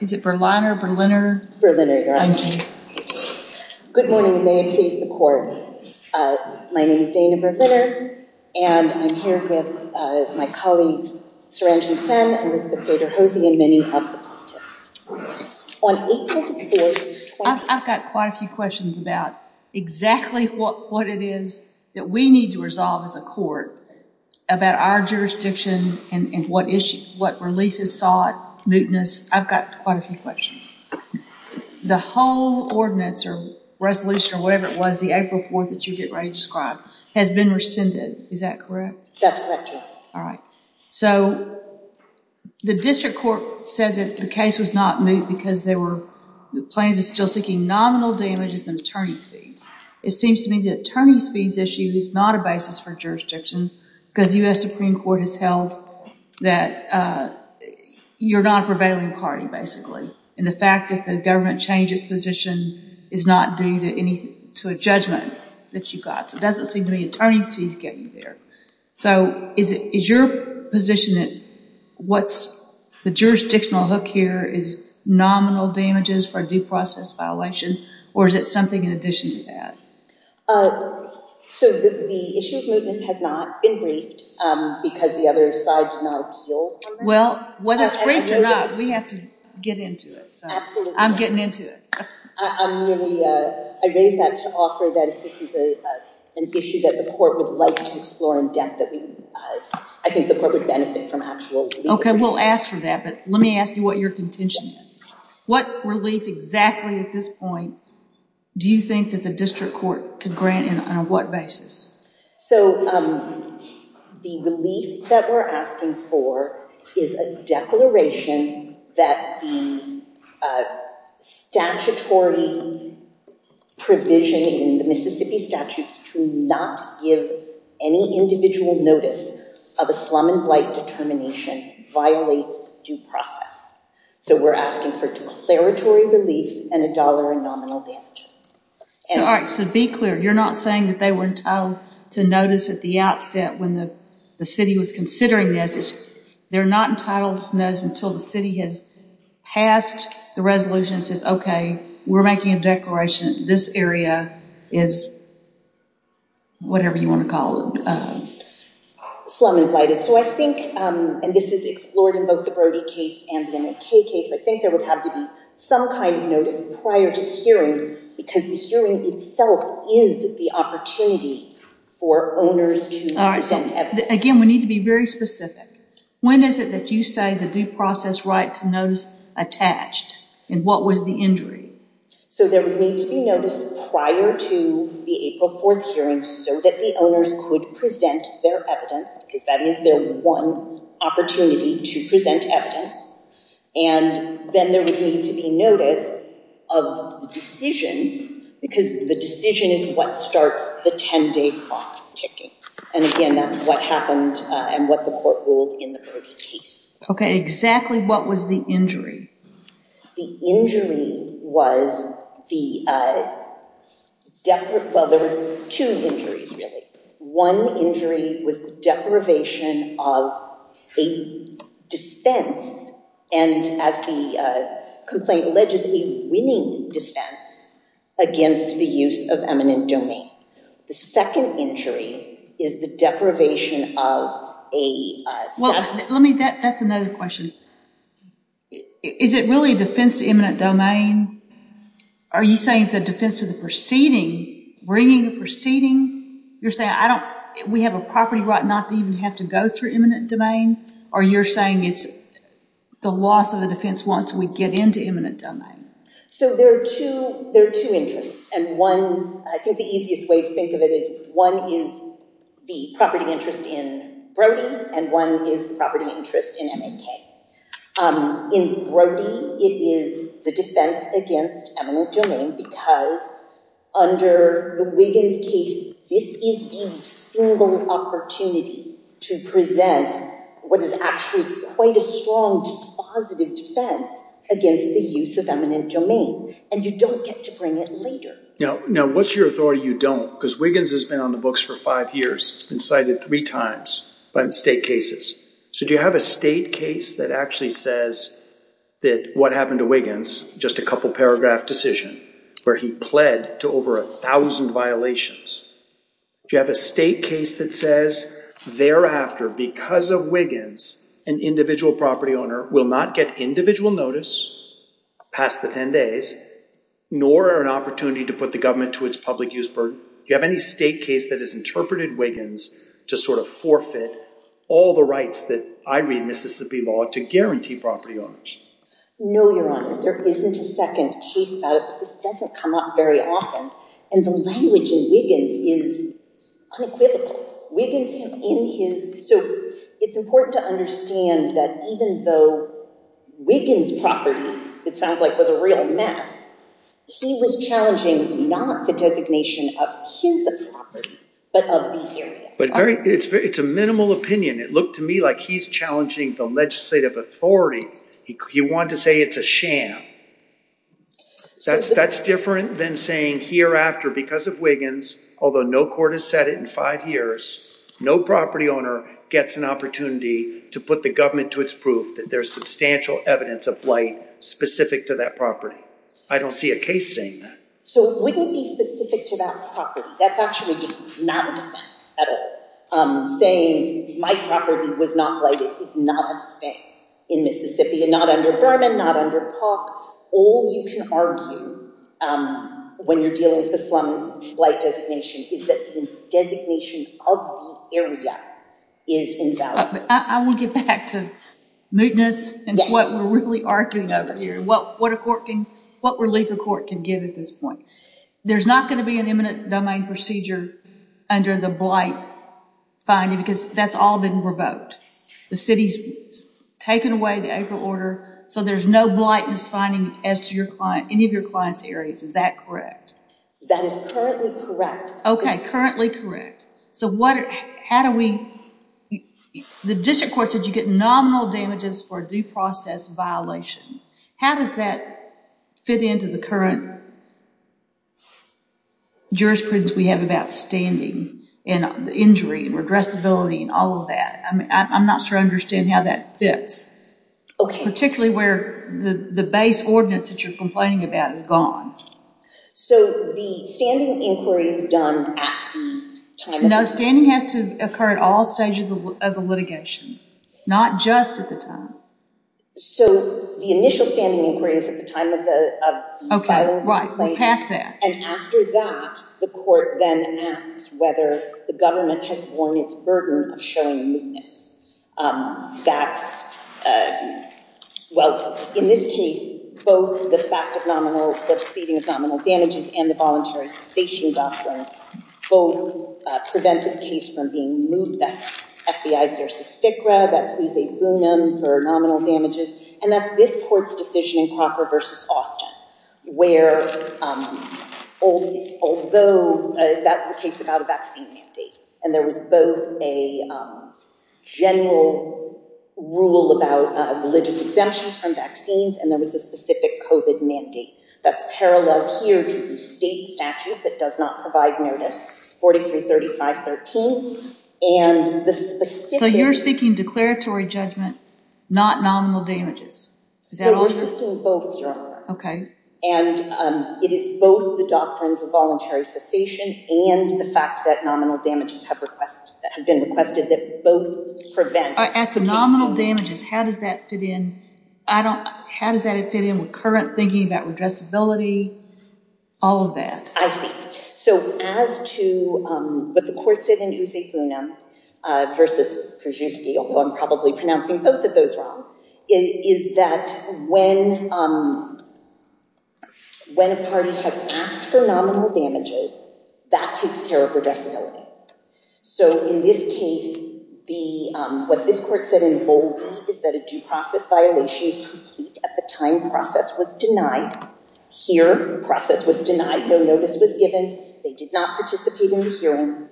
Is it Berliner, Berliner? Berliner, your honor. Good morning and may it please the court. My name is Dana Berliner and I'm here with my colleagues Saranjan Sen, Elizabeth Vader-Hosey, and many other contests. I've got quite a few questions about exactly what what it is that we need to resolve as a court about our jurisdiction and what issue, what relief is sought, mootness. I've got quite a few questions. The whole ordinance or resolution or whatever it was, the April 4th that you get ready to describe has been rescinded, is that correct? That's correct, your honor. All right, so the district court said that the case was not moot because they were planning to still seeking nominal damages and attorney's fees. It seems to me the attorney's fees issue is not a basis for jurisdiction because the U.S. Supreme Court has held that you're not a prevailing party basically and the fact that the government changed its position is not due to anything, to a judgment that you got. So it doesn't seem to me attorney's fees get you there. So is it is your position that what's the jurisdictional hook here is nominal damages for due process violation or is it something in addition to that? So the issue of mootness has not been briefed because the other side did not appeal. Well, whether it's briefed or not we have to get into it so I'm getting into it. I raise that to offer that if this is an issue that the court would like to explore in depth that we I think the court would benefit from actual relief. Okay, we'll ask for that but let me ask you what your contention is. What relief exactly at this point do you think that the district court could grant in on what basis? So the relief that we're asking for is a declaration that the statutory provision in the Mississippi statute to not give any individual notice of a slum and blight determination violates due process. So we're asking for declaratory relief and a dollar in nominal damages. All right, so be clear you're not saying that they were entitled to notice at the outset when the city was considering this. They're not entitled to notice until the city has passed the resolution and says okay we're making a declaration this area is whatever you want to call it. Slum and blighted. So I think, and this is explored in both the Brody case and the McKay case, I think there would have to be some kind of notice prior to hearing because the hearing itself is the opportunity for owners to present evidence. Again, we need to be very specific. When is it that you say the due process right to notice attached and what was the injury? So there would need to be notice prior to the April 4th hearing so that the owners could present their evidence because that is their one opportunity to present evidence and then there would need to be notice of the decision because the decision is what starts the 10-day clock ticking and again that's what happened and what the court ruled in the Brody case. Okay, exactly what was the injury? The injury was the, well there were two injuries really. One injury was the deprivation of a dispense and as the complaint alleges, a winning defense against the use of eminent domain. The second injury is the deprivation of a... Well let me, that's another question. Is it really a defense to eminent domain? Are you saying it's a defense to the proceeding, bringing the proceeding? You're saying I don't, we have a property right not to even have to go through eminent domain or you're saying it's the loss of the eminent domain? So there are two interests and one, I think the easiest way to think of it is one is the property interest in Brody and one is the property interest in MAK. In Brody it is the defense against eminent domain because under the Wiggins case this is the single opportunity to present what is actually quite a strong dispositive defense against the use of eminent domain and you don't get to bring it later. Now what's your authority you don't? Because Wiggins has been on the books for five years. It's been cited three times by state cases. So do you have a state case that actually says that what happened to Wiggins, just a couple paragraph decision, where he pled to over a thousand violations? Do you have a state case that says thereafter because of Wiggins an individual property owner will not get individual notice past the 10 days nor an opportunity to put the government to its public use burden? Do you have any state case that has interpreted Wiggins to sort of forfeit all the rights that I read Mississippi law to guarantee property owners? No, your honor. There isn't a second case about it. This doesn't come up very often and the language in Wiggins is unequivocal. Wiggins in his, so it's important to understand that even though Wiggins property it sounds like was a real mess, he was challenging not the designation of his property but of the area. But very, it's a minimal opinion. It looked to me like he's challenging the legislative authority. He wanted to say it's a sham. That's different than saying hereafter because of Wiggins, although no court has said it in five years, no property owner gets an opportunity to put the government to its proof that there's substantial evidence of blight specific to that property. I don't see a case saying that. So it wouldn't be specific to that property. That's actually just not a defense at all. Saying my property was not blighted is not a in Mississippi and not under Berman, not under Pauk. All you can argue when you're dealing with the slum blight designation is that the designation of the area is invalid. I want to get back to mootness and what we're really arguing over here. What a court can, what relief a court can give at this point. There's not going to be an imminent domain procedure under the blight finding because that's all been revoked. The city's taken away the acre order so there's no blightness finding as to your client, any of your client's areas. Is that correct? That is currently correct. Okay, currently correct. So what, how do we, the district court said you get nominal damages for a due process violation. How does that fit into the current jurisprudence we have about standing and the injury and redressability and all that? I'm not sure I understand how that fits. Okay. Particularly where the the base ordinance that you're complaining about is gone. So the standing inquiry is done at the time. No, standing has to occur at all stages of the litigation, not just at the time. So the initial standing inquiry is at the time of the of the filing. Okay, right, we're past that. And after that the court then asks whether the government has borne its burden of showing mootness. That's, well, in this case both the fact of nominal, the proceeding of nominal damages and the voluntary cessation doctrine both prevent this case from being moved. That's FBI versus FCRA, that's Usai Boonam for nominal damages, and that's this court's decision in Crocker versus Austin where although that's the case about a vaccine mandate and there was both a general rule about religious exemptions from vaccines and there was a specific COVID mandate that's parallel here to the state statute that does not provide notice 43, 35, 13. So you're seeking declaratory judgment, not nominal damages. We're seeking both, Your Honor. Okay. And it is both the doctrines of voluntary cessation and the fact that nominal damages have been requested that both prevent. As to nominal damages, how does that fit in? How does that fit in with current thinking about regressibility, all of that? I see. So as to what the court said in Usai Boonam versus Krzyzewski, although I'm probably pronouncing both of those wrong, is that when a party has asked for nominal damages, that takes care of regressibility. So in this case, what this court said in bold is that a due process violation is complete at the time process was denied. Here, process was denied, no notice was given, they did not participate in the hearing,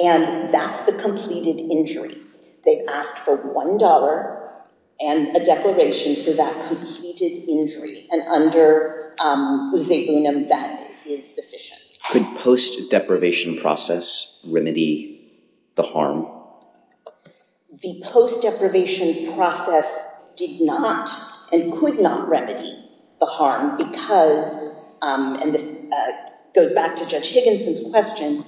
and that's the completed injury. They've asked for one dollar and a declaration for that completed injury, and under Usai Boonam, that is sufficient. Could post-deprivation process remedy the harm? The post-deprivation process did not and could not remedy the harm because, and this goes back to Judge Higginson's question,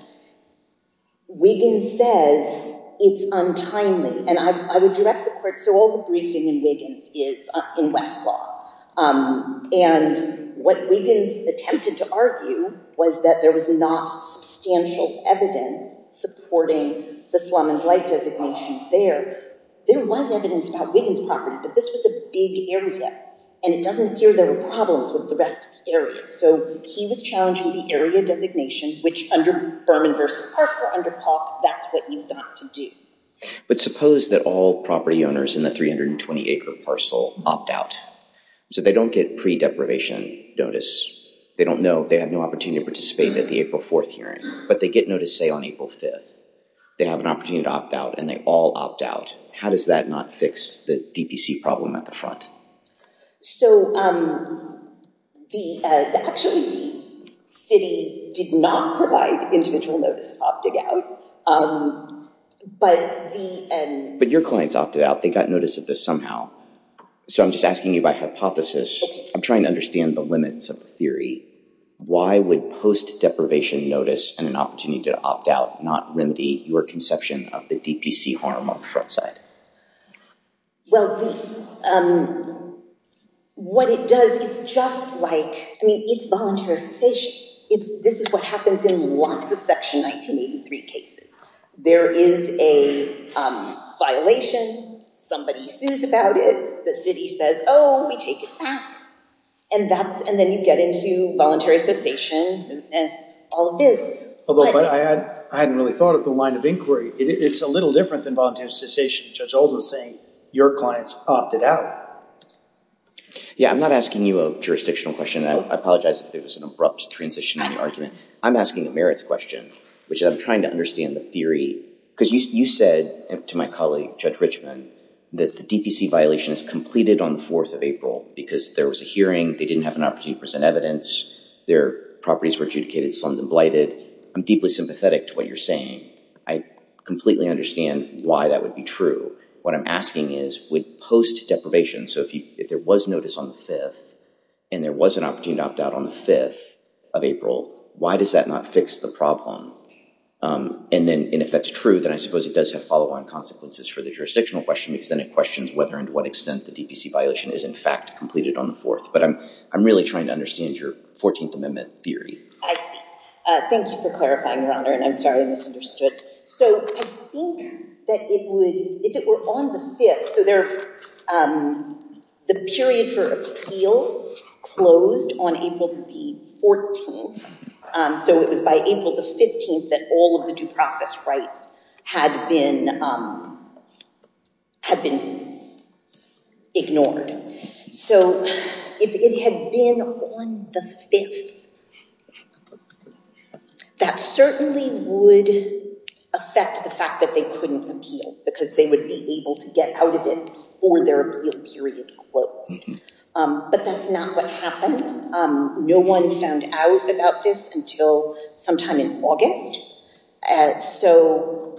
Wiggins says it's untimely, and I would direct the court, so all the briefing in Wiggins is in Westlaw, and what Wiggins attempted to argue was that there was not substantial evidence supporting the Slum and Flight designation there. There was evidence about Wiggins property, but this was a big area, and it doesn't appear there were problems with the rest of the area. So he was challenging the area designation, which under Berman v. Parker, under POC, that's what you've got to do. But suppose that all property owners in the 320-acre parcel opt out, so they don't get pre-deprivation notice, they don't know, they have no opportunity to participate in the April 4th hearing, but they get notice, say, on April 5th. They have an opportunity to opt out, and they all opt out. How does that not fix the DPC problem at the front? So the, actually, the city did not provide individual notice of opting out, but the— But your clients opted out. They got notice of this somehow. So I'm just asking you by hypothesis. I'm trying to understand the limits of the theory. Why would post-deprivation notice and an opportunity to opt out not remedy your conception of the DPC harm on the front side? Well, what it does, it's just like, I mean, it's voluntary cessation. This is what happens in lots of Section 1983 cases. There is a violation. Somebody sues about it. The city says, oh, we take it back. And that's, and then you get into voluntary cessation and all of this. Although I hadn't really thought of the line of inquiry. It's a little different than voluntary cessation. Judge Oldham is saying your clients opted out. Yeah, I'm not asking you a jurisdictional question. I apologize if there was an abrupt transition in the argument. I'm asking a merits question, which I'm trying to understand the theory. Because you said to my colleague, Judge Richman, that the DPC violation is completed on the 4th of April because there was a hearing, they didn't have an opportunity to present evidence, their properties were adjudicated, slummed and blighted. I'm deeply sympathetic to what you're saying. I completely understand why that would be true. What I'm asking is, would post-deprivation, so if there was notice on the 5th, and there was an opportunity to opt out on the 5th of April, why does that not fix the problem? And then if that's true, then I suppose it does have follow-on consequences for the jurisdictional question because then it questions whether and to what extent the DPC violation is in fact completed on the 4th. But I'm really trying to understand your 14th Amendment theory. I see. Thank you for clarifying, Your Honor. And I'm sorry, I misunderstood. So I think that if it were on the 5th, so the period for appeal closed on April the 14th, so it was by April the 15th that all of the due process rights had been ignored. So if it had been on the 5th, that certainly would affect the fact that they couldn't appeal because they would be able to get out of it before their appeal period closed. But that's not what happened. No one found out about this until sometime in August. So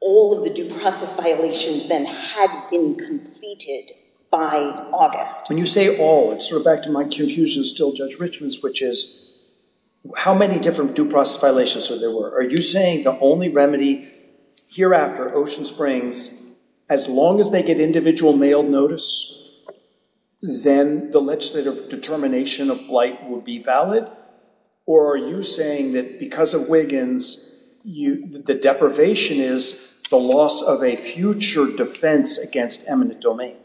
all of the due process violations then had been completed by August. When you say all, it's sort of back to my confusion as still Judge Richman's, which is, how many different due process violations were there? Are you saying the only remedy hereafter, Ocean Springs, as long as they get individual mail notice, then the legislative determination of blight would be valid? Or are you saying that because of Wiggins, the deprivation is the loss of a future defense against eminent domain?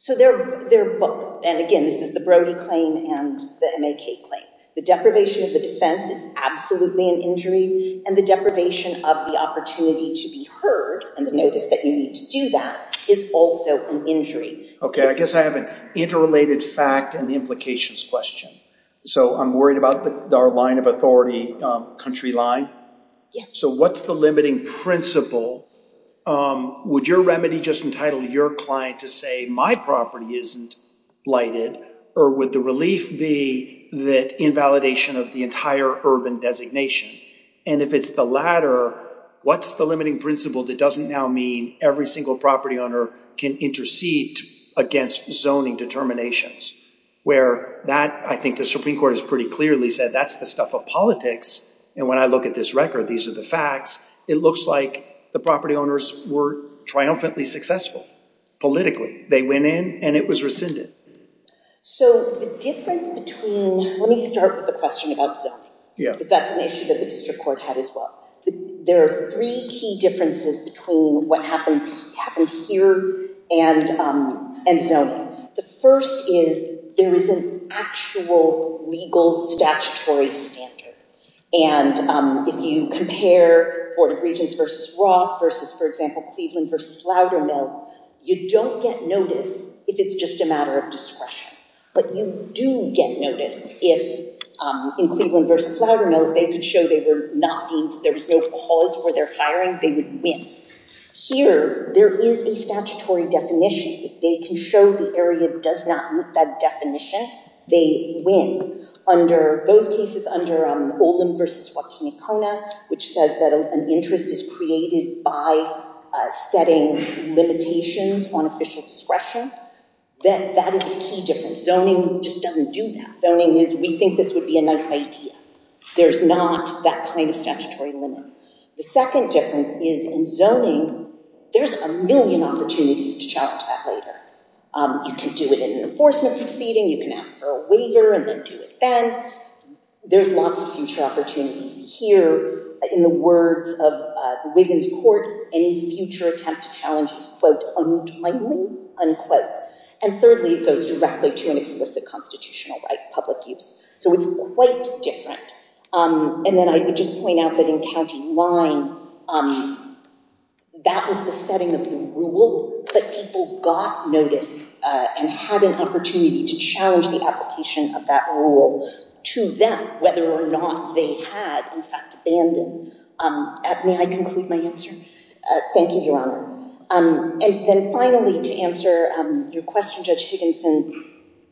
So they're both. And again, this is the Brody claim and the MAK claim. The deprivation of the defense is absolutely an injury, and the deprivation of the opportunity to be heard and the notice that you need to do that is also an injury. Okay, I guess I have an interrelated fact and the implications question. So I'm worried about our line of authority, Country Line. So what's the limiting principle? Would your remedy just entitle your client to say, my property isn't blighted? Or would the relief be that invalidation of the entire urban designation? And if it's the latter, what's the limiting principle that doesn't now mean every single property owner can intercede against zoning determinations? Where that, I think the Supreme Court has pretty clearly said, that's the stuff of politics. And when I look at this record, these are the facts. It looks like the property owners were triumphantly successful politically. They went in and it was rescinded. So the difference between, let me start with the question about zoning, because that's an issue that the district court had as well. There are three key differences between what happens here and zoning. The first is there is an actual legal statutory standard. And if you compare Board of Regents versus Roth versus, for example, Cleveland versus Loudermill, you don't get notice if it's just a matter of discretion. But you do get notice if in Cleveland versus Loudermill, if they could show there was no cause for their firing, they would win. Here, there is a statutory definition. If they can show the area does not meet that definition, they win. Those cases under Olin versus Joaquin Icona, which says that an interest is created by setting limitations on official discretion, that is a key difference. Zoning just doesn't do that. Zoning is, we think this would be a nice idea. There's not that kind of statutory limit. The second difference is in zoning, there's a million opportunities to challenge that later. You can do it in an enforcement proceeding. You can ask for a waiver and then do it then. There's lots of future opportunities here. In the words of the Wiggins Court, any future attempt to challenge is, quote, untimely, unquote. And thirdly, it goes directly to an explicit constitutional right, public use. So it's quite different. And then I would just point out that in County line, that was the setting of the rule. But people got notice and had an opportunity to challenge the application of that rule to them, whether or not they had, in fact, abandoned. May I conclude my answer? Thank you, Your Honor. And then finally, to answer your question, Judge Higginson,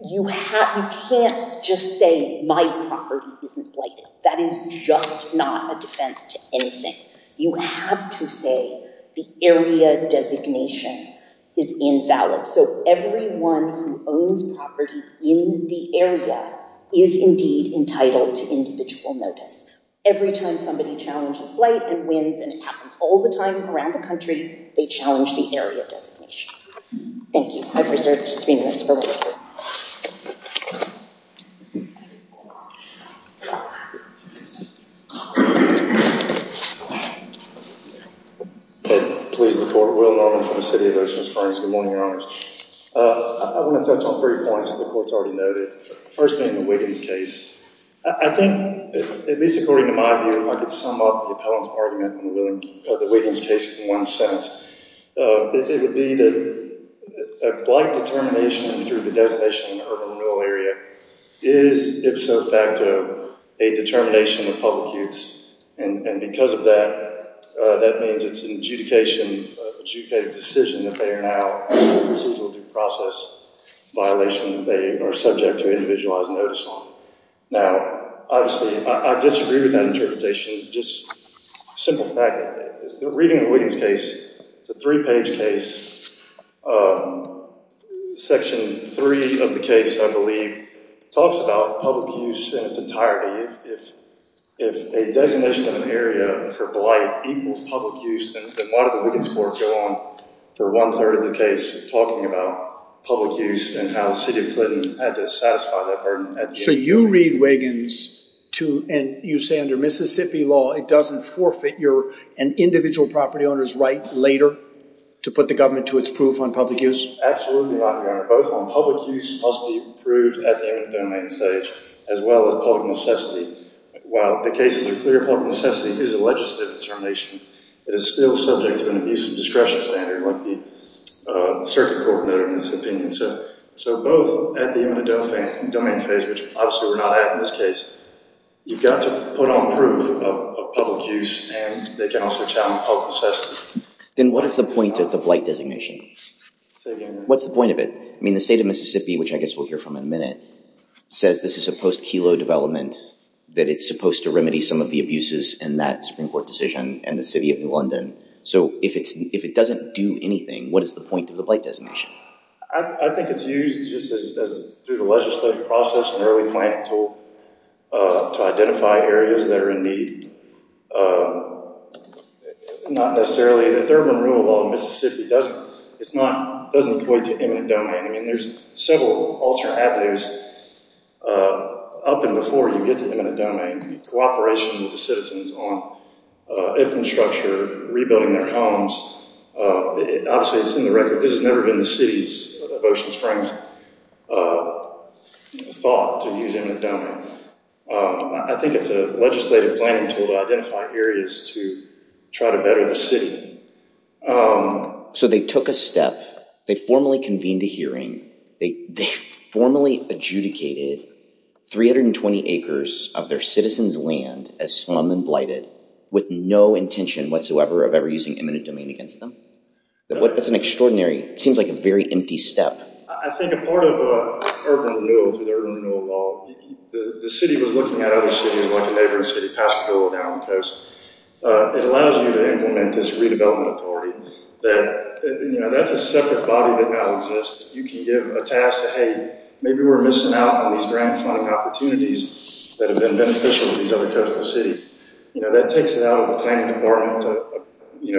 you can't just say my property isn't blighted. That is just not a defense to anything. You have to say the area designation is invalid. So everyone who owns property in the area is indeed entitled to individual notice. Every time somebody challenges blight and wins, and it happens all the time around the country, they challenge the area designation. Thank you. I've reserved three minutes for one more. And please, the court will now move for the city of Ocean Springs. Good morning, Your Honors. I want to touch on three points that the court's already noted. First being the Wiggins case. I think, at least according to my view, if I could sum up the appellant's argument on the Wiggins case in one sentence, it would be that a blight determination through the designation in the urban renewal area is, if so facto, a determination of public use. And because of that, that means it's an adjudication, an adjudicated decision that they are now in a procedural due process violation. They are subject to individualized notice on. Now, obviously, I disagree with that interpretation. Just a simple fact, reading the Wiggins case, it's a three-page case. Section three of the case, I believe, talks about public use in its entirety. If a designation of an area for blight equals public use, then why did the Wiggins court go on for one-third of the case talking about public use and how the city of Clinton had to satisfy that burden at the end of the case? So you read Wiggins to, and you say under Mississippi law, it doesn't forfeit your individual property owner's right later to put the government to its proof on public use? Absolutely not, Your Honor. Both on public use must be proved at the end of the domain stage as well as public necessity. While the case is a clear public necessity, it is a legislative determination. It is still subject to an abuse of discretion standard like the circuit court noted in this opinion. So both at the end of the domain phase, which obviously we're not at in this case, you've got to put on proof of public use and they can also challenge public necessity. Then what is the point of the blight designation? What's the point of it? I mean, the state of Mississippi, which I guess we'll hear from in a minute, says this is a post-Kelo development, that it's supposed to remedy some of the abuses in that Supreme Court decision. The city of New London. So if it doesn't do anything, what is the point of the blight designation? I think it's used just as through the legislative process and early planning tool to identify areas that are in need. Not necessarily the Thurman rule, although Mississippi doesn't point to imminent domain. I mean, there's several alternate avenues up and before you get to imminent domain. Cooperation with the citizens on infrastructure, rebuilding their homes. Obviously, it's in the record. This has never been the city's of Ocean Springs thought to use imminent domain. I think it's a legislative planning tool to identify areas to try to better the city. So they took a step. They formally convened a hearing. They formally adjudicated 320 acres of their citizens' land as slum and blighted with no intention whatsoever of ever using imminent domain against them. That's an extraordinary, seems like a very empty step. I think a part of urban renewal, through the urban renewal law, the city was looking at other cities like a neighboring city, Pasco, down the coast. It allows you to implement this redevelopment authority. That's a separate body that now exists. You can give a task to, maybe we're missing out on these grant funding opportunities that have been beneficial to these other coastal cities. That takes it out of the planning department,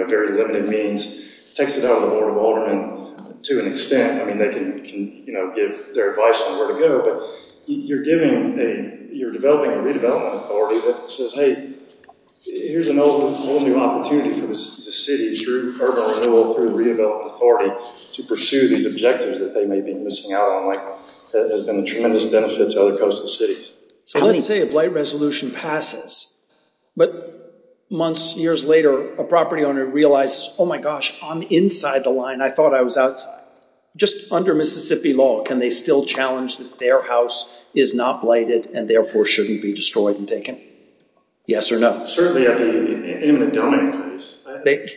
very limited means, takes it out of the Board of Aldermen to an extent. I mean, they can give their advice on where to go, but you're developing a redevelopment authority that says, hey, here's a whole new opportunity for the city through urban renewal, through redevelopment authority to pursue these objectives that they may be missing out on that has been a tremendous benefit to other coastal cities. So let's say a blight resolution passes, but months, years later, a property owner realizes, oh my gosh, I'm inside the line. I thought I was outside. Just under Mississippi law, can they still challenge that their house is not blighted and therefore shouldn't be destroyed and taken? Yes or no? Certainly at the imminent domain.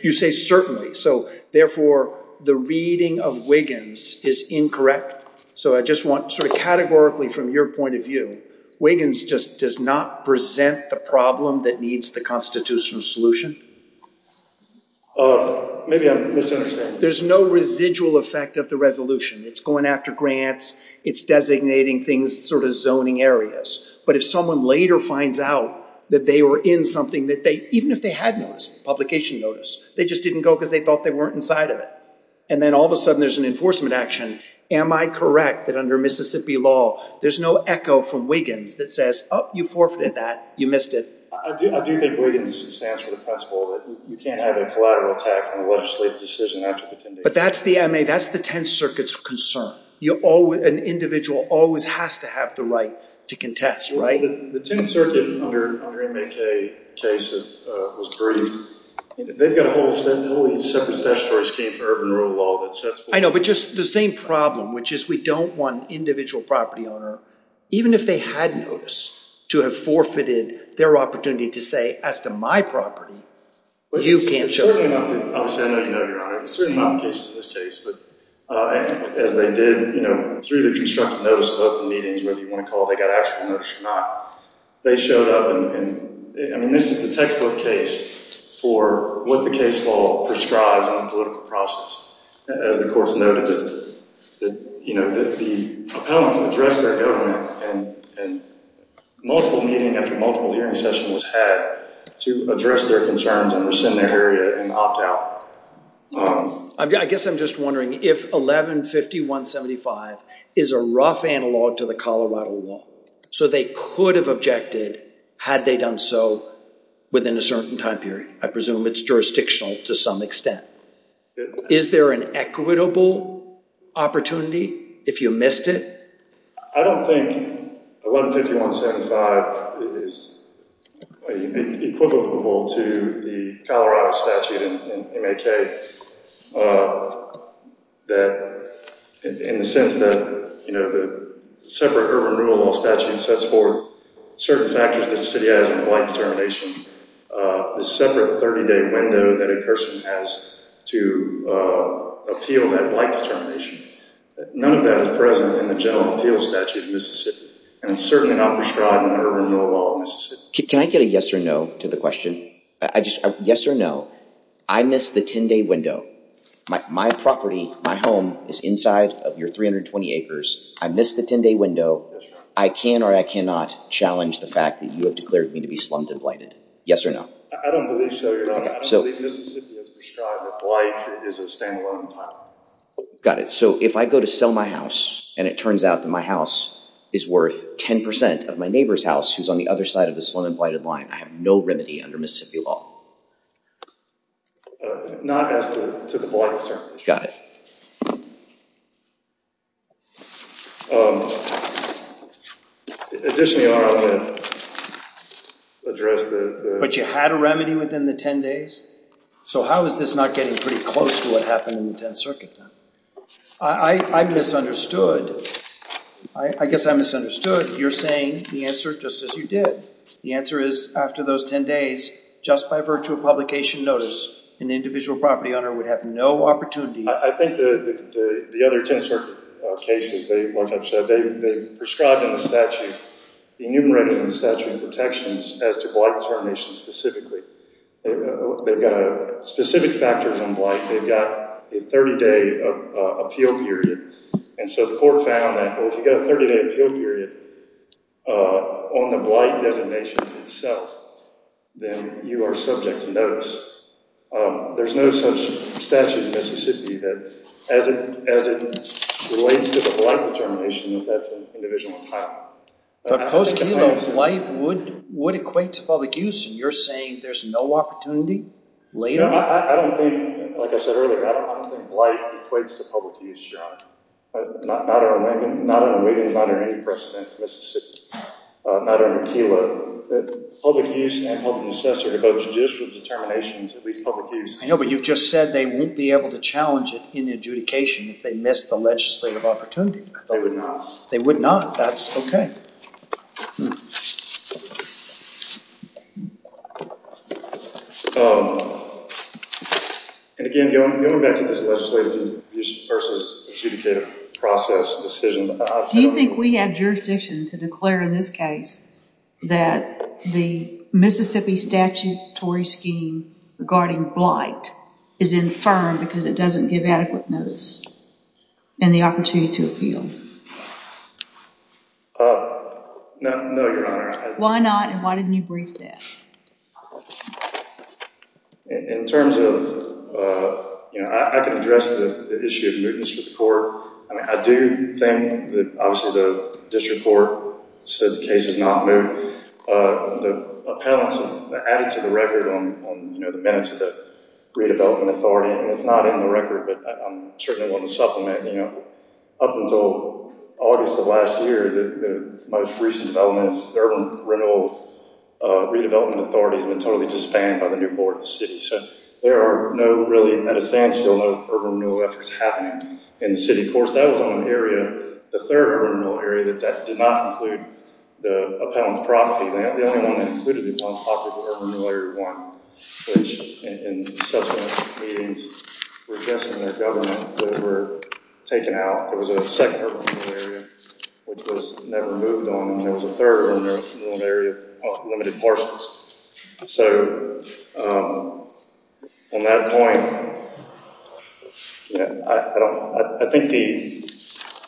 You say certainly. So therefore, the reading of Wiggins is incorrect. So I just want sort of categorically from your point of view, Wiggins just does not present the problem that needs the constitutional solution. Maybe I'm misunderstanding. There's no residual effect of the resolution. It's going after grants. It's designating things, sort of zoning areas. But if someone later finds out that they were in something that they, even if they had no publication notice, they just didn't go because they thought they weren't inside of it. And then all of a sudden, there's an enforcement action. Am I correct that under Mississippi law, there's no echo from Wiggins that says, oh, you forfeited that. You missed it. I do think Wiggins stands for the principle that you can't have a collateral attack on a legislative decision after the 10th Circuit. But that's the MA, that's the 10th Circuit's concern. An individual always has to have the right to contest, right? The 10th Circuit under MAK case was briefed. They've got a whole separate statutory scheme for urban rule of law that sets forth. I know, but just the same problem, which is we don't want individual property owner, even if they had notice, to have forfeited their opportunity to say as to my property, you can't show up. Obviously, I know you know, Your Honor. It was certainly not the case in this case. But as they did, through the constructive notice of open meetings, whether you want to call it, they got actual notice or not. They showed up. And I mean, this is the textbook case. For what the case law prescribes on a political process. As the courts noted that, you know, the opponents address their government and multiple meeting after multiple hearing session was had to address their concerns and rescind their area and opt out. I guess I'm just wondering if 11-5175 is a rough analog to the Colorado law. So they could have objected had they done so within a certain time period. I presume it's jurisdictional to some extent. Is there an equitable opportunity if you missed it? I don't think 11-5175 is equivocable to the Colorado statute in MAK. That in the sense that, you know, the separate urban renewal statute sets forth certain factors that the city has in the blank determination. The separate 30-day window that a person has to appeal that blank determination. None of that is present in the general appeal statute in Mississippi. And it's certainly not bestridden in the urban renewal law of Mississippi. Can I get a yes or no to the question? Yes or no. I missed the 10-day window. My property, my home is inside of your 320 acres. I missed the 10-day window. I can or I cannot challenge the fact that you have declared me to be slumped and blighted. Yes or no. I don't believe so, Your Honor. I believe Mississippi has prescribed that blight is a standalone type. Got it. So if I go to sell my house and it turns out that my house is worth 10% of my neighbor's house who's on the other side of the slump and blighted line, I have no remedy under Mississippi law. Not as to the blight, sir. Got it. Additionally, Your Honor, I want to address the... But you had a remedy within the 10 days. So how is this not getting pretty close to what happened in the 10th Circuit? I misunderstood. I guess I misunderstood. You're saying the answer just as you did. The answer is after those 10 days, just by virtual publication notice, an individual property owner would have no opportunity. I think the other 10th Circuit cases, they prescribed in the statute enumerated in the statute of protections as to blight determination specifically. They've got specific factors on blight. They've got a 30-day appeal period. And so the court found that, well, if you've got a 30-day appeal period on the blight designation itself, then you are subject to notice. There's no such statute in Mississippi that as it relates to the blight determination, that's an individual type. But post-Kilo, blight would equate to public use. And you're saying there's no opportunity later? No, I don't think, like I said earlier, I don't think blight equates to public use, Your Honor. Not under Wiggins, not under any precedent in Mississippi. Not under Kilo. Public use and public assessor to both judicial determinations, at least public use. I know, but you've just said they won't be able to challenge it in adjudication if they miss the legislative opportunity. They would not. They would not. That's okay. Hmm. And again, going back to this legislative versus adjudicative process decisions. Do you think we have jurisdiction to declare in this case that the Mississippi statutory scheme regarding blight is infirmed because it doesn't give adequate notice and the opportunity to appeal? No, no, Your Honor. Why not, and why didn't you brief this? In terms of, you know, I can address the issue of mootness for the court. I mean, I do think that obviously the district court said the case is not moot. The appellant added to the record on, you know, the minutes of the Redevelopment Authority, and it's not in the record, but I certainly want to supplement, you know, up until August of last year, the most recent developments, the Urban Renewal Redevelopment Authority has been totally disbanded by the new board of the city. So there are no really, in that instance, no urban renewal efforts happening in the city. Of course, that was on an area, the third urban renewal area, that did not include the appellant's property. The only one that included the appellant's property was Urban Renewal Area 1, which in subsequent meetings were addressed in their government that were taken out. There was a second urban renewal area, which was never moved on, and there was a third urban renewal area of limited parcels. So on that point, you know, I don't, I think the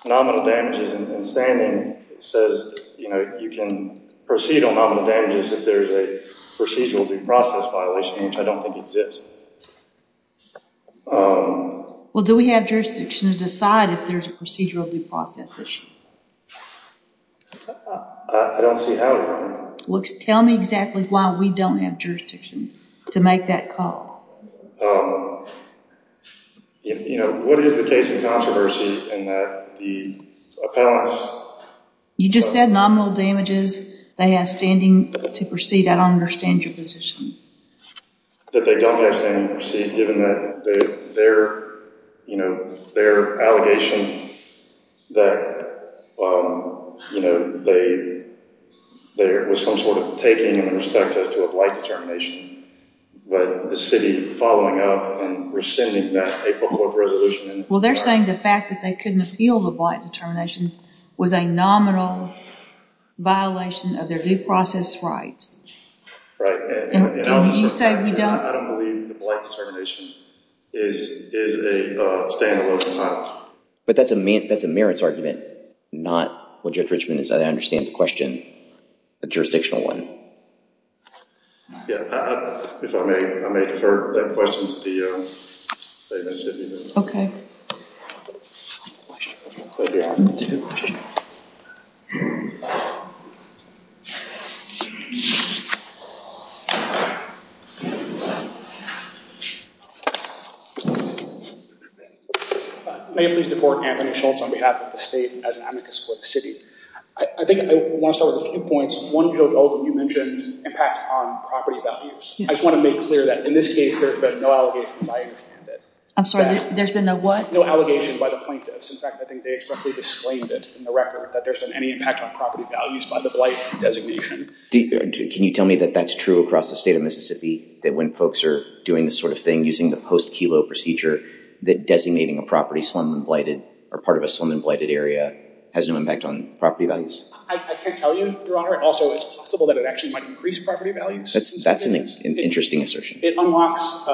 nominal damages and standing says, you know, you can proceed on nominal damages if there's a procedural due process violation, which I don't think exists. Well, do we have jurisdiction to decide if there's a procedural due process issue? I don't see how it would be. Tell me exactly why we don't have jurisdiction to make that call. You know, what is the case of controversy in that the appellants... You just said nominal damages. They have standing to proceed. I don't understand your position. That they don't have standing to proceed given that their, you know, their allegation that, you know, there was some sort of taking in respect as to a blight determination, but the city following up and rescinding that April 4th resolution... Well, they're saying the fact that they couldn't appeal the blight determination was a nominal violation of their due process rights. Right. And you said we don't... I don't believe the blight determination is a stand-alone conduct. But that's a merits argument, not what Judge Richman said. I understand the question, the jurisdictional one. Yeah. If I may, I may defer that question to the State Mississippi. Okay. May I please deport Anthony Schultz on behalf of the state as an amicus for the city. I think I want to start with a few points. One, Judge Oldham, you mentioned impact on property values. I just want to make clear that in this case, there's been no allegations. I understand that. I'm sorry, there's been no what? No allegations by the plaintiffs. In fact, I think they expressly disclaimed it in the record that there's been any impact on property values by the blight designation. Can you tell me that that's true across the state of Mississippi, that when folks are doing this sort of thing using the post-Kelo procedure, that designating a property slum and blighted or part of a slum and blighted area has no impact on property values? I can't tell you, Your Honor. Also, it's possible that it actually might increase property values. That's an interesting assertion. It unlocks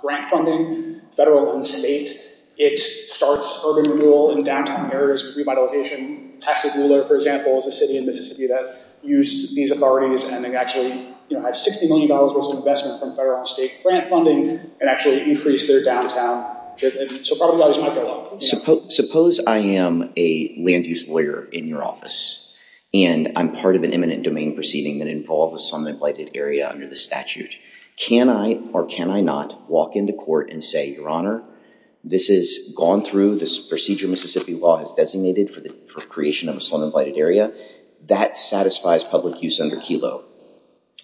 grant funding, federal and state. It starts urban renewal and downtime errors, revitalization. Pasco ruler, for example, is a city in Mississippi that used these authorities and actually had $60 million worth of investment from federal and state grant funding and actually increased their downtown. So property values might go up. Suppose I am a land use lawyer in your office and I'm part of an eminent domain proceeding that involves a slum and blighted area under the statute. Can I or can I not walk into court and say, Your Honor, this is gone through, this procedure Mississippi law has designated for the creation of a slum and blighted area. That satisfies public use under Kelo.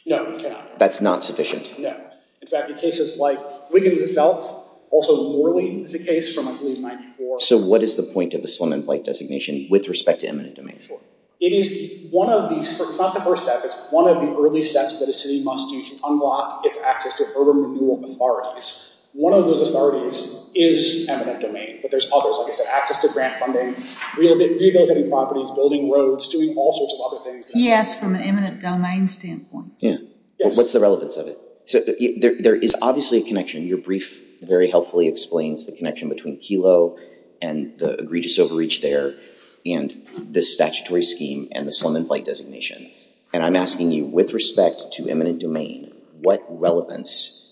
No, you cannot. That's not sufficient? No. In fact, in cases like Wiggins itself, also Worley is a case from, I believe, 94. So what is the point of the slum and blight designation with respect to eminent domain? It is one of the, it's not the first step. It's one of the early steps that a city must do to unlock its access to urban renewal authorities. One of those authorities is eminent domain, but there's others, like I said, access to grant funding, rehabilitating properties, building roads, all sorts of other things. Yes, from an eminent domain standpoint. Yeah, but what's the relevance of it? So there is obviously a connection. Your brief very helpfully explains the connection between Kelo and the egregious overreach there and the statutory scheme and the slum and blight designation. And I'm asking you with respect to eminent domain, what relevance,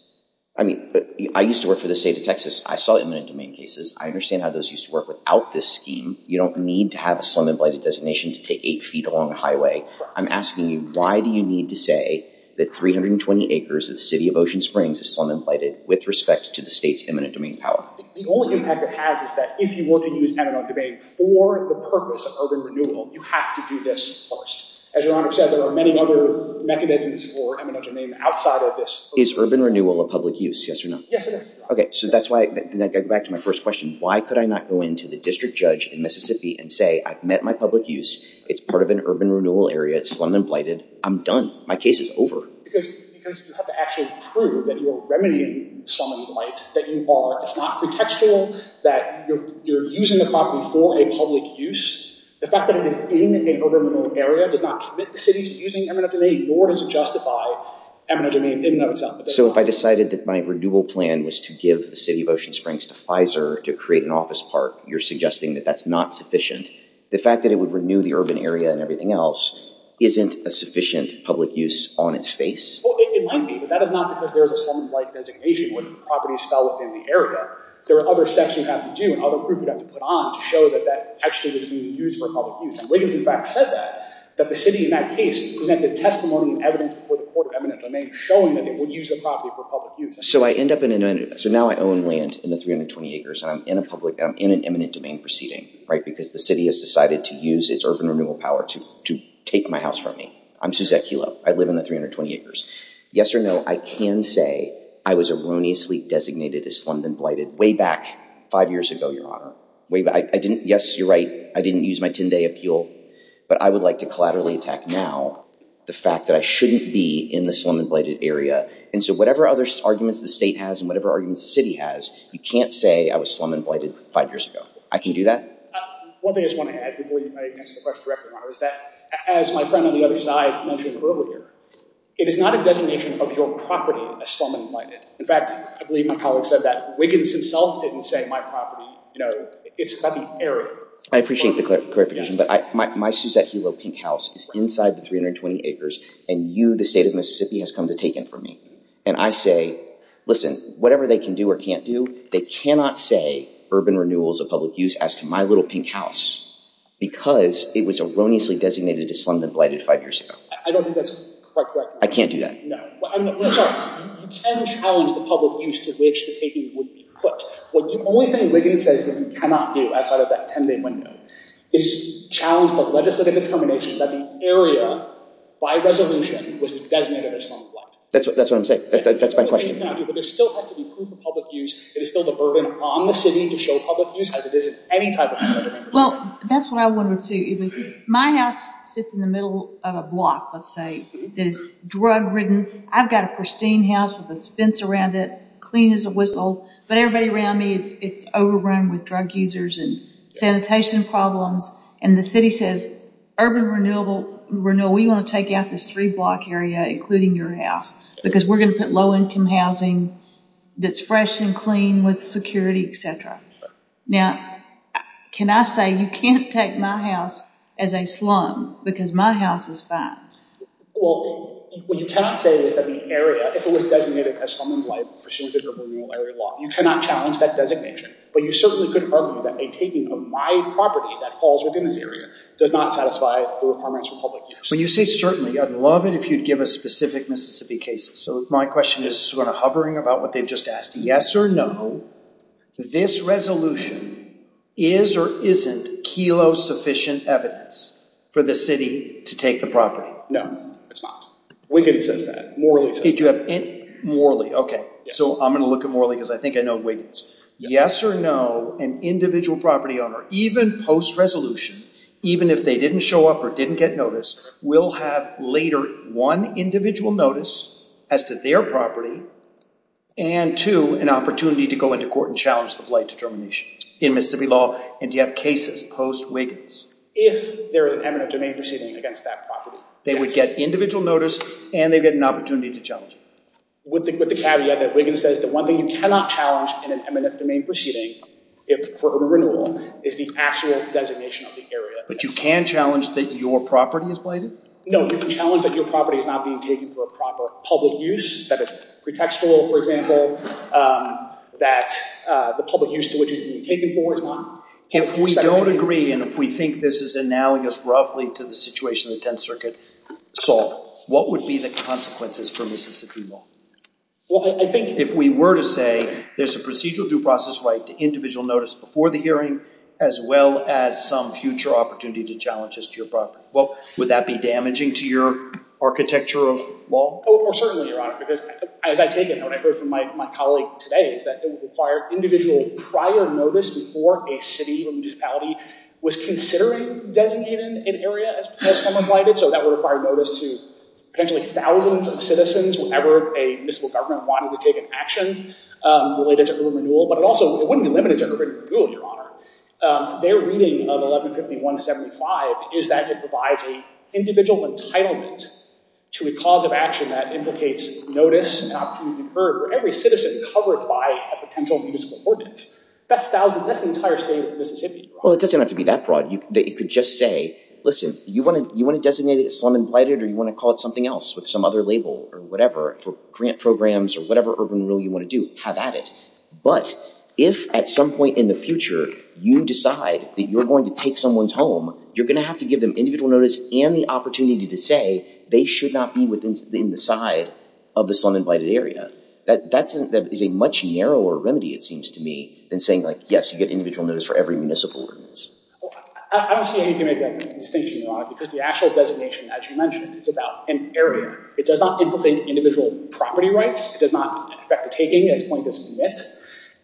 I mean, I used to work for the state of Texas. I saw eminent domain cases. I understand how those used to work without this scheme. You don't need to have a slum and blighted designation to take eight feet along a highway. I'm asking you, why do you need to say that 320 acres of the city of Ocean Springs is slum and blighted with respect to the state's eminent domain power? The only impact it has is that if you want to use eminent domain for the purpose of urban renewal, you have to do this first. As your honor said, there are many other mechanisms for eminent domain outside of this. Is urban renewal a public use, yes or no? Yes, it is. Okay, so that's why I go back to my first question. Why could I not go into the district judge in Mississippi and say, I've met my public use. It's part of an urban renewal area. It's slum and blighted. I'm done. My case is over. Because you have to actually prove that you're remedying slum and blight, that you are. It's not pretextual that you're using the property for a public use. The fact that it is in an urban renewal area does not commit the city to using eminent domain nor does it justify eminent domain in and of itself. So if I decided that my renewal plan was to give the city of Ocean Springs to Pfizer to create an office park, you're suggesting that that's not sufficient? The fact that it would renew the urban area and everything else isn't a sufficient public use on its face? Well, it might be, but that is not because there is a slum and blight designation where the properties fell within the area. There are other steps you have to do and other proof you have to put on to show that that actually was being used for public use. And Wiggins, in fact, said that, that the city in that case presented testimony and evidence before the court of eminent domain showing that they would use the property for public use. So I end up in an... So now I own land in the 320 acres and I'm in a public... I'm in an eminent domain proceeding, right? Because the city has decided to use its urban renewal power to take my house from me. I'm Suzette Kilo. I live in the 320 acres. Yes or no, I can say I was erroneously designated as slum and blighted way back five years ago, Your Honor. Yes, you're right. I didn't use my 10-day appeal, but I would like to collaterally attack now the fact that I shouldn't be in the slum and blighted area. And so whatever other arguments the state has and whatever arguments the city has, you can't say I was slum and blighted five years ago. I can do that? One thing I just want to add before you answer the question directly, Your Honor, is that as my friend on the other side mentioned earlier, it is not a designation of your property as slum and blighted. In fact, I believe my colleague said that Wiggins himself didn't say my property. You know, it's about the area. I appreciate the clarification, but my Suzette Kilo pink house is inside the 320 acres and you, the state of Mississippi, has come to take it from me. And I say, listen, whatever they can do or can't do, they cannot say urban renewal is a public use as to my little pink house because it was erroneously designated as slum and blighted five years ago. I don't think that's correct. I can't do that. No, I'm sorry. You can challenge the public use to which the taking would be put. The only thing Wiggins says that you cannot do outside of that 10-day window is challenge the legislative determination that the area, by resolution, was designated as slum and blight. That's what I'm saying. That's my question. But there still has to be proof of public use. It is still the burden on the city to show public use as it is any type of public use. Well, that's what I wondered too. My house sits in the middle of a block, let's say, that is drug-ridden. I've got a pristine house with a fence around it, clean as a whistle. But everybody around me, it's overrun with drug users and sanitation problems. And the city says, urban renewal, we want to take out this three-block area, including your house, because we're going to put low-income housing that's fresh and clean with security, et cetera. Now, can I say, you can't take my house as a slum because my house is fine. Well, what you cannot say is that the area, if it was designated as slum and blight, pursues a urban renewal area law. You cannot challenge that designation. But you certainly could argue that a taking of my property that falls within this area does not satisfy the requirements for public use. When you say certainly, I'd love it if you'd give us specific Mississippi cases. So my question is sort of hovering about what they've just asked. Yes or no, this resolution is or isn't KELO-sufficient evidence for the city to take the property? No, it's not. Wiggins says that. Morley says that. Do you have any? Morley, okay. So I'm going to look at Morley because I think I know Wiggins. Yes or no, an individual property owner, even post-resolution, even if they didn't show up or didn't get notice, will have later one individual notice as to their property and two, an opportunity to go into court and challenge the blight determination in Mississippi law. And do you have cases post-Wiggins? If there was an eminent domain proceeding against that property. They would get individual notice and they'd get an opportunity to challenge it. With the caveat that Wiggins says the one thing you cannot challenge in an eminent domain proceeding for a renewal is the actual designation of the area. But you can challenge that your property is blighted? No, you can challenge that your property is not being taken for a proper public use, that is pretextual, for example, that the public use to which it can be taken for is not. If we don't agree and if we think this is analogous roughly to the situation of the 10th Circuit, so what would be the consequences for Mississippi law? Well, I think if we were to say there's a procedural due process right to individual notice before the hearing, as well as some future opportunity to challenge this to your property. Well, would that be damaging to your architecture of law? Oh, certainly, Your Honor, because as I take it when I heard from my colleague today is that it would require individual prior notice before a city or municipality was considering designating an area as someone blighted. So that would require notice to potentially thousands of citizens, whenever a municipal government wanted to take an action related to early renewal. But it also wouldn't be limited to early renewal, Your Honor. Their reading of 1151.75 is that it provides an individual entitlement to a cause of action that implicates notice for every citizen covered by a potential municipal ordinance. That's thousands, that's the entire state of Mississippi. Well, it doesn't have to be that broad. You could just say, listen, you want to designate it as someone blighted or you want to call it something else with some other label or whatever for grant programs or whatever urban rule you want to do, have at it. But if at some point in the future you decide that you're going to take someone's home, you're going to have to give them individual notice and the opportunity to say they should not be within the side of the slum and blighted area. That is a much narrower remedy, it seems to me, than saying like, yes, you get individual notice for every municipal ordinance. Well, I don't see anything that may be a distinction, Your Honor, because the actual designation, as you mentioned, is about an area. It does not implicate individual property rights. It does not affect the taking at this point that's been met.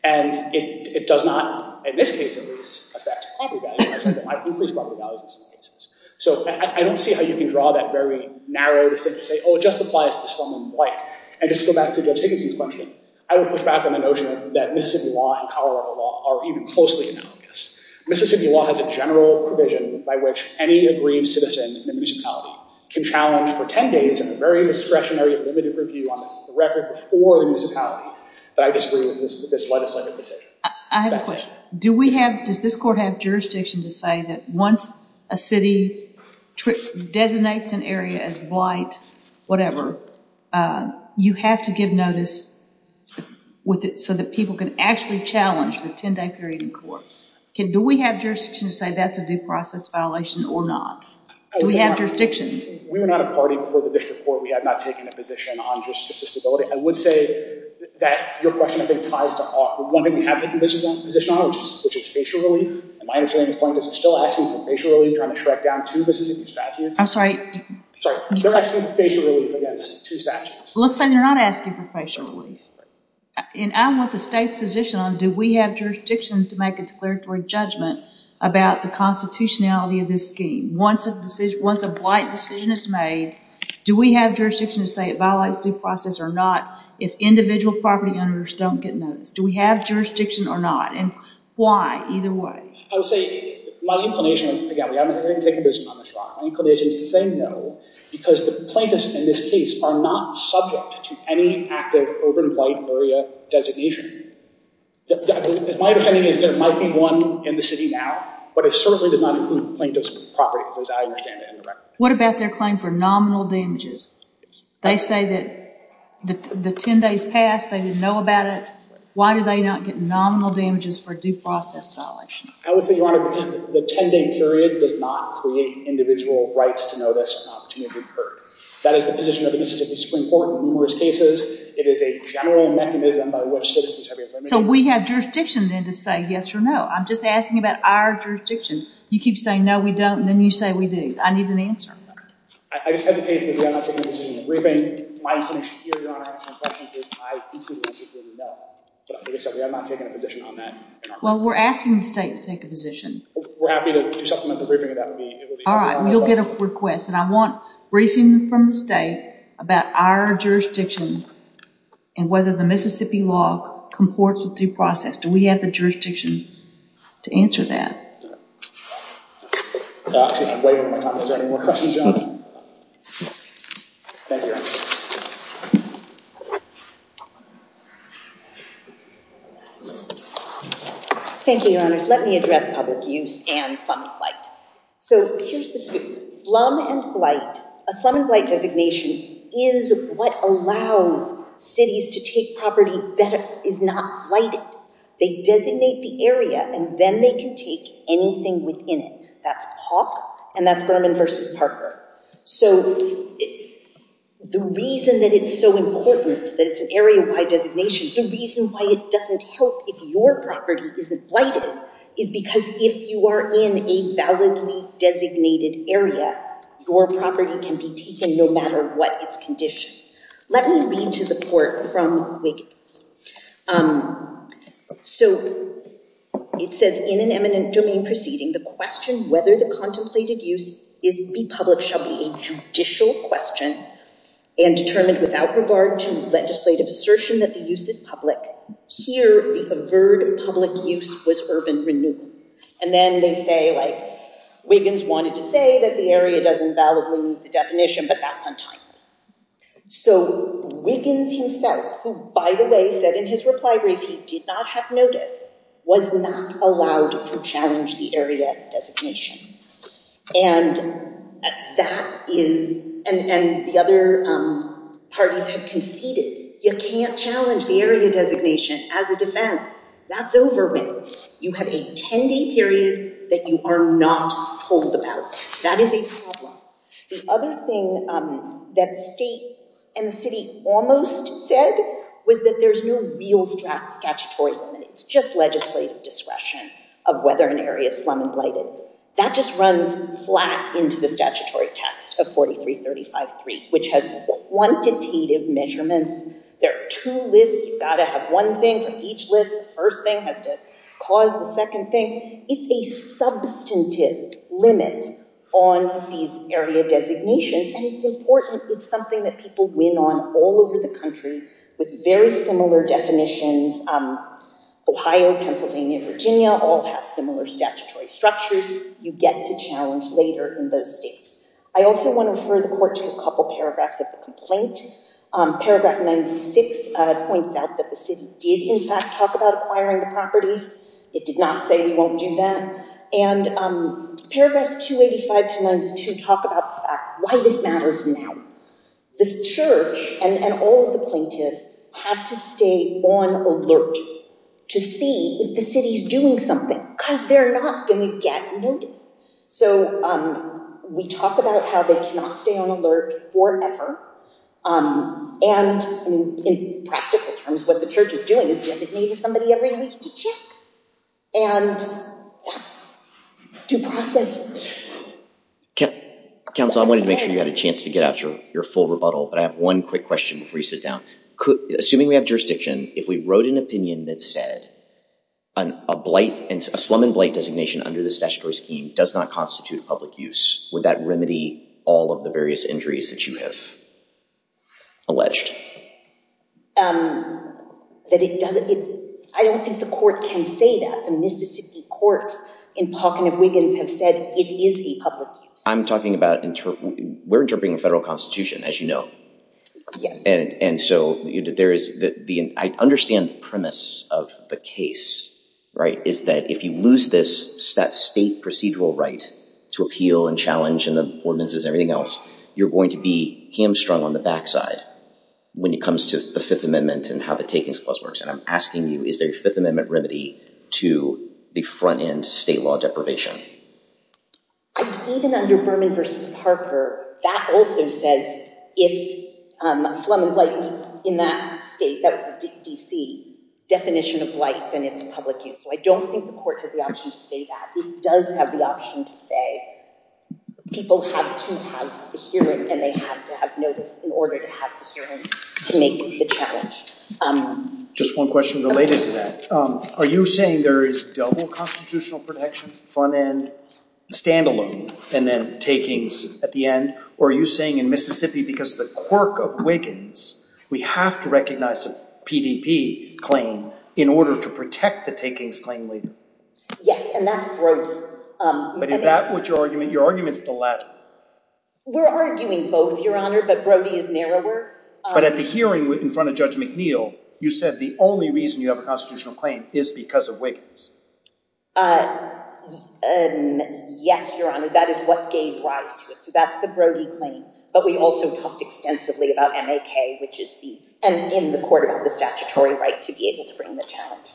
And it does not, in this case at least, affect property values because it might increase property values in some cases. So I don't see how you can draw that very narrow distinction to say, oh, it just applies to slum and blight. And just to go back to Judge Higginson's question, I would push back on the notion that Mississippi law and Colorado law are even closely analogous. Mississippi law has a general provision by which any aggrieved citizen in the municipality can challenge for 10 days in a very discretionary and limited review on the record before the municipality that I disagree with this legislative decision. I have a question. Do we have, does this court have jurisdiction to say that once a city designates an area as blight, whatever, you have to give notice with it so that people can actually challenge the 10-day period in court? Do we have jurisdiction to say that's a due process violation or not? Do we have jurisdiction? We were not a party before the district court. We have not taken a position on just the stability. I would say that your question, I think, ties to one thing we have taken a position on, which is facial relief. And my understanding is plaintiffs are still asking for facial relief trying to track down two Mississippi statutes. I'm sorry. Sorry. They're asking for facial relief against two statutes. Let's say they're not asking for facial relief. And I'm with the state position on do we have jurisdiction to make a declaratory judgment about the constitutionality of this scheme? Once a decision, once a blight decision is made, do we have jurisdiction to say it violates due process or not if individual property owners don't get notice? Do we have jurisdiction or not? And why? Either way. I would say my inclination, again, we haven't taken a position on this one. My inclination is to say no because the plaintiffs in this case are not subject to any active urban blight area designation. My understanding is there might be one in the city now, but it certainly does not include plaintiff's properties as I understand it indirectly. What about their claim for nominal damages? They say that the 10 days passed, they didn't know about it. Why did they not get nominal damages for due process violation? I would say, Your Honor, because the 10-day period does not create individual rights to know this opportunity occurred. That is the position of the Mississippi Supreme Court in numerous cases. It is a general mechanism by which citizens have been permitted. So we have jurisdiction, then, to say yes or no. I'm just asking about our jurisdiction. You keep saying no, we don't, and then you say we do. I need an answer. I just hesitate because we are not taking a decision in the briefing. My inclination here, Your Honor, answering questions is, I consider this a guilty no. But I think it's okay. I'm not taking a position on that. Well, we're asking the state to take a position. We're happy to supplement the briefing, but that would be... All right, we'll get a request. And I want a briefing from the state about our jurisdiction and whether the Mississippi law comports with due process. Do we have the jurisdiction to answer that? I'm just going to wait on my time. Is there any more questions, Your Honor? Thank you, Your Honor. Thank you, Your Honors. Let me address public use and slum flight. So here's the story. Slum and blight, a slum and blight designation is what allows cities to take property that is not blighted. They designate the area and then they can take anything within it. That's PAWP and that's Berman v. Parker. So the reason that it's so important that it's an area-wide designation, the reason why it doesn't help if your property isn't blighted is because if you are in a validly designated area, your property can be taken no matter what its condition. Let me read to the court from Wiggins. So it says, in an eminent domain proceeding, the question whether the contemplated use be public shall be a judicial question and determined without regard to legislative assertion that the use is public. Here, the averred public use was urban renewal. And then they say, Wiggins wanted to say that the area doesn't validly meet the definition, but that's untimely. So Wiggins himself, who, by the way, said in his reply brief he did not have notice, was not allowed to challenge the area designation. And that is, and the other parties have conceded, you can't challenge the area designation as a defense. That's over with. You have a 10-day period that you are not told about. That is a problem. The other thing that the state and the city almost said was that there's no real statutory limit. It's just legislative discretion of whether an area is slum and blighted. That just runs flat into the statutory text of 43-35-3, which has quantitative measurements. There are two lists. You've got to have one thing for each list. The first thing has to cause the second thing. It's a substantive limit on these area designations, and it's important. It's something that people win on all over the country with very similar definitions. Ohio, Pennsylvania, Virginia all have similar statutory structures. You get to challenge later in those states. I also want to refer the court to a couple paragraphs of the complaint. Paragraph 96 points out that the city did, in fact, talk about acquiring the properties. It did not say we won't do that. Paragraphs 285 to 92 talk about the fact why this matters now. This church and all of the plaintiffs have to stay on alert to see if the city's doing something because they're not going to get notice. We talk about how they cannot stay on alert forever. In practical terms, what the church is doing is designating somebody every week to check, and that's due process. Counsel, I wanted to make sure you had a chance to get out your full rebuttal, but I have one quick question before you sit down. Assuming we have jurisdiction, if we wrote an opinion that said a slum and blight designation under this statutory scheme does not constitute public use, would that remedy all of the various injuries that you have alleged? I don't think the court can say that. The Mississippi courts in Pawkin of Wiggins have said it is a public use. I'm talking about, we're interpreting a federal constitution, as you know. And so there is the, I understand the premise of the case, right, is that if you lose this, that state procedural right to appeal and challenge and the ordinances and everything else, you're going to be hamstrung on the back side. When it comes to the Fifth Amendment and how the Takings Clause works, and I'm asking you, is there a Fifth Amendment remedy to the front end state law deprivation? Even under Berman v. Parker, that also says if a slum and blight in that state, that was the D.C. definition of blight, then it's public use. So I don't think the court has the option to say that. It does have the option to say people have to have the hearing and they have to have notice in order to have the hearing to make the challenge. Just one question related to that. Are you saying there is double constitutional protection, front end, standalone, and then takings at the end? Or are you saying in Mississippi, because of the quirk of Wiggins, we have to recognize a PDP claim in order to protect the takings claim leader? Yes, and that's Brody. But is that what your argument, your argument's the latter? We're arguing both, Your Honor, but Brody is narrower. But at the hearing in front of Judge McNeil, you said the only reason you have a constitutional claim is because of Wiggins. Yes, Your Honor, that is what gave rise to it. So that's the Brody claim. But we also talked extensively about MAK, which is in the court about the statutory right to be able to bring the challenge.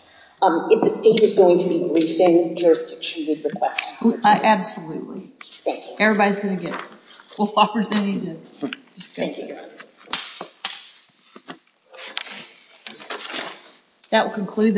If the state is going to be briefing jurisdiction, we'd request it. Absolutely. Everybody's going to get full opportunity to discuss it. That will conclude the...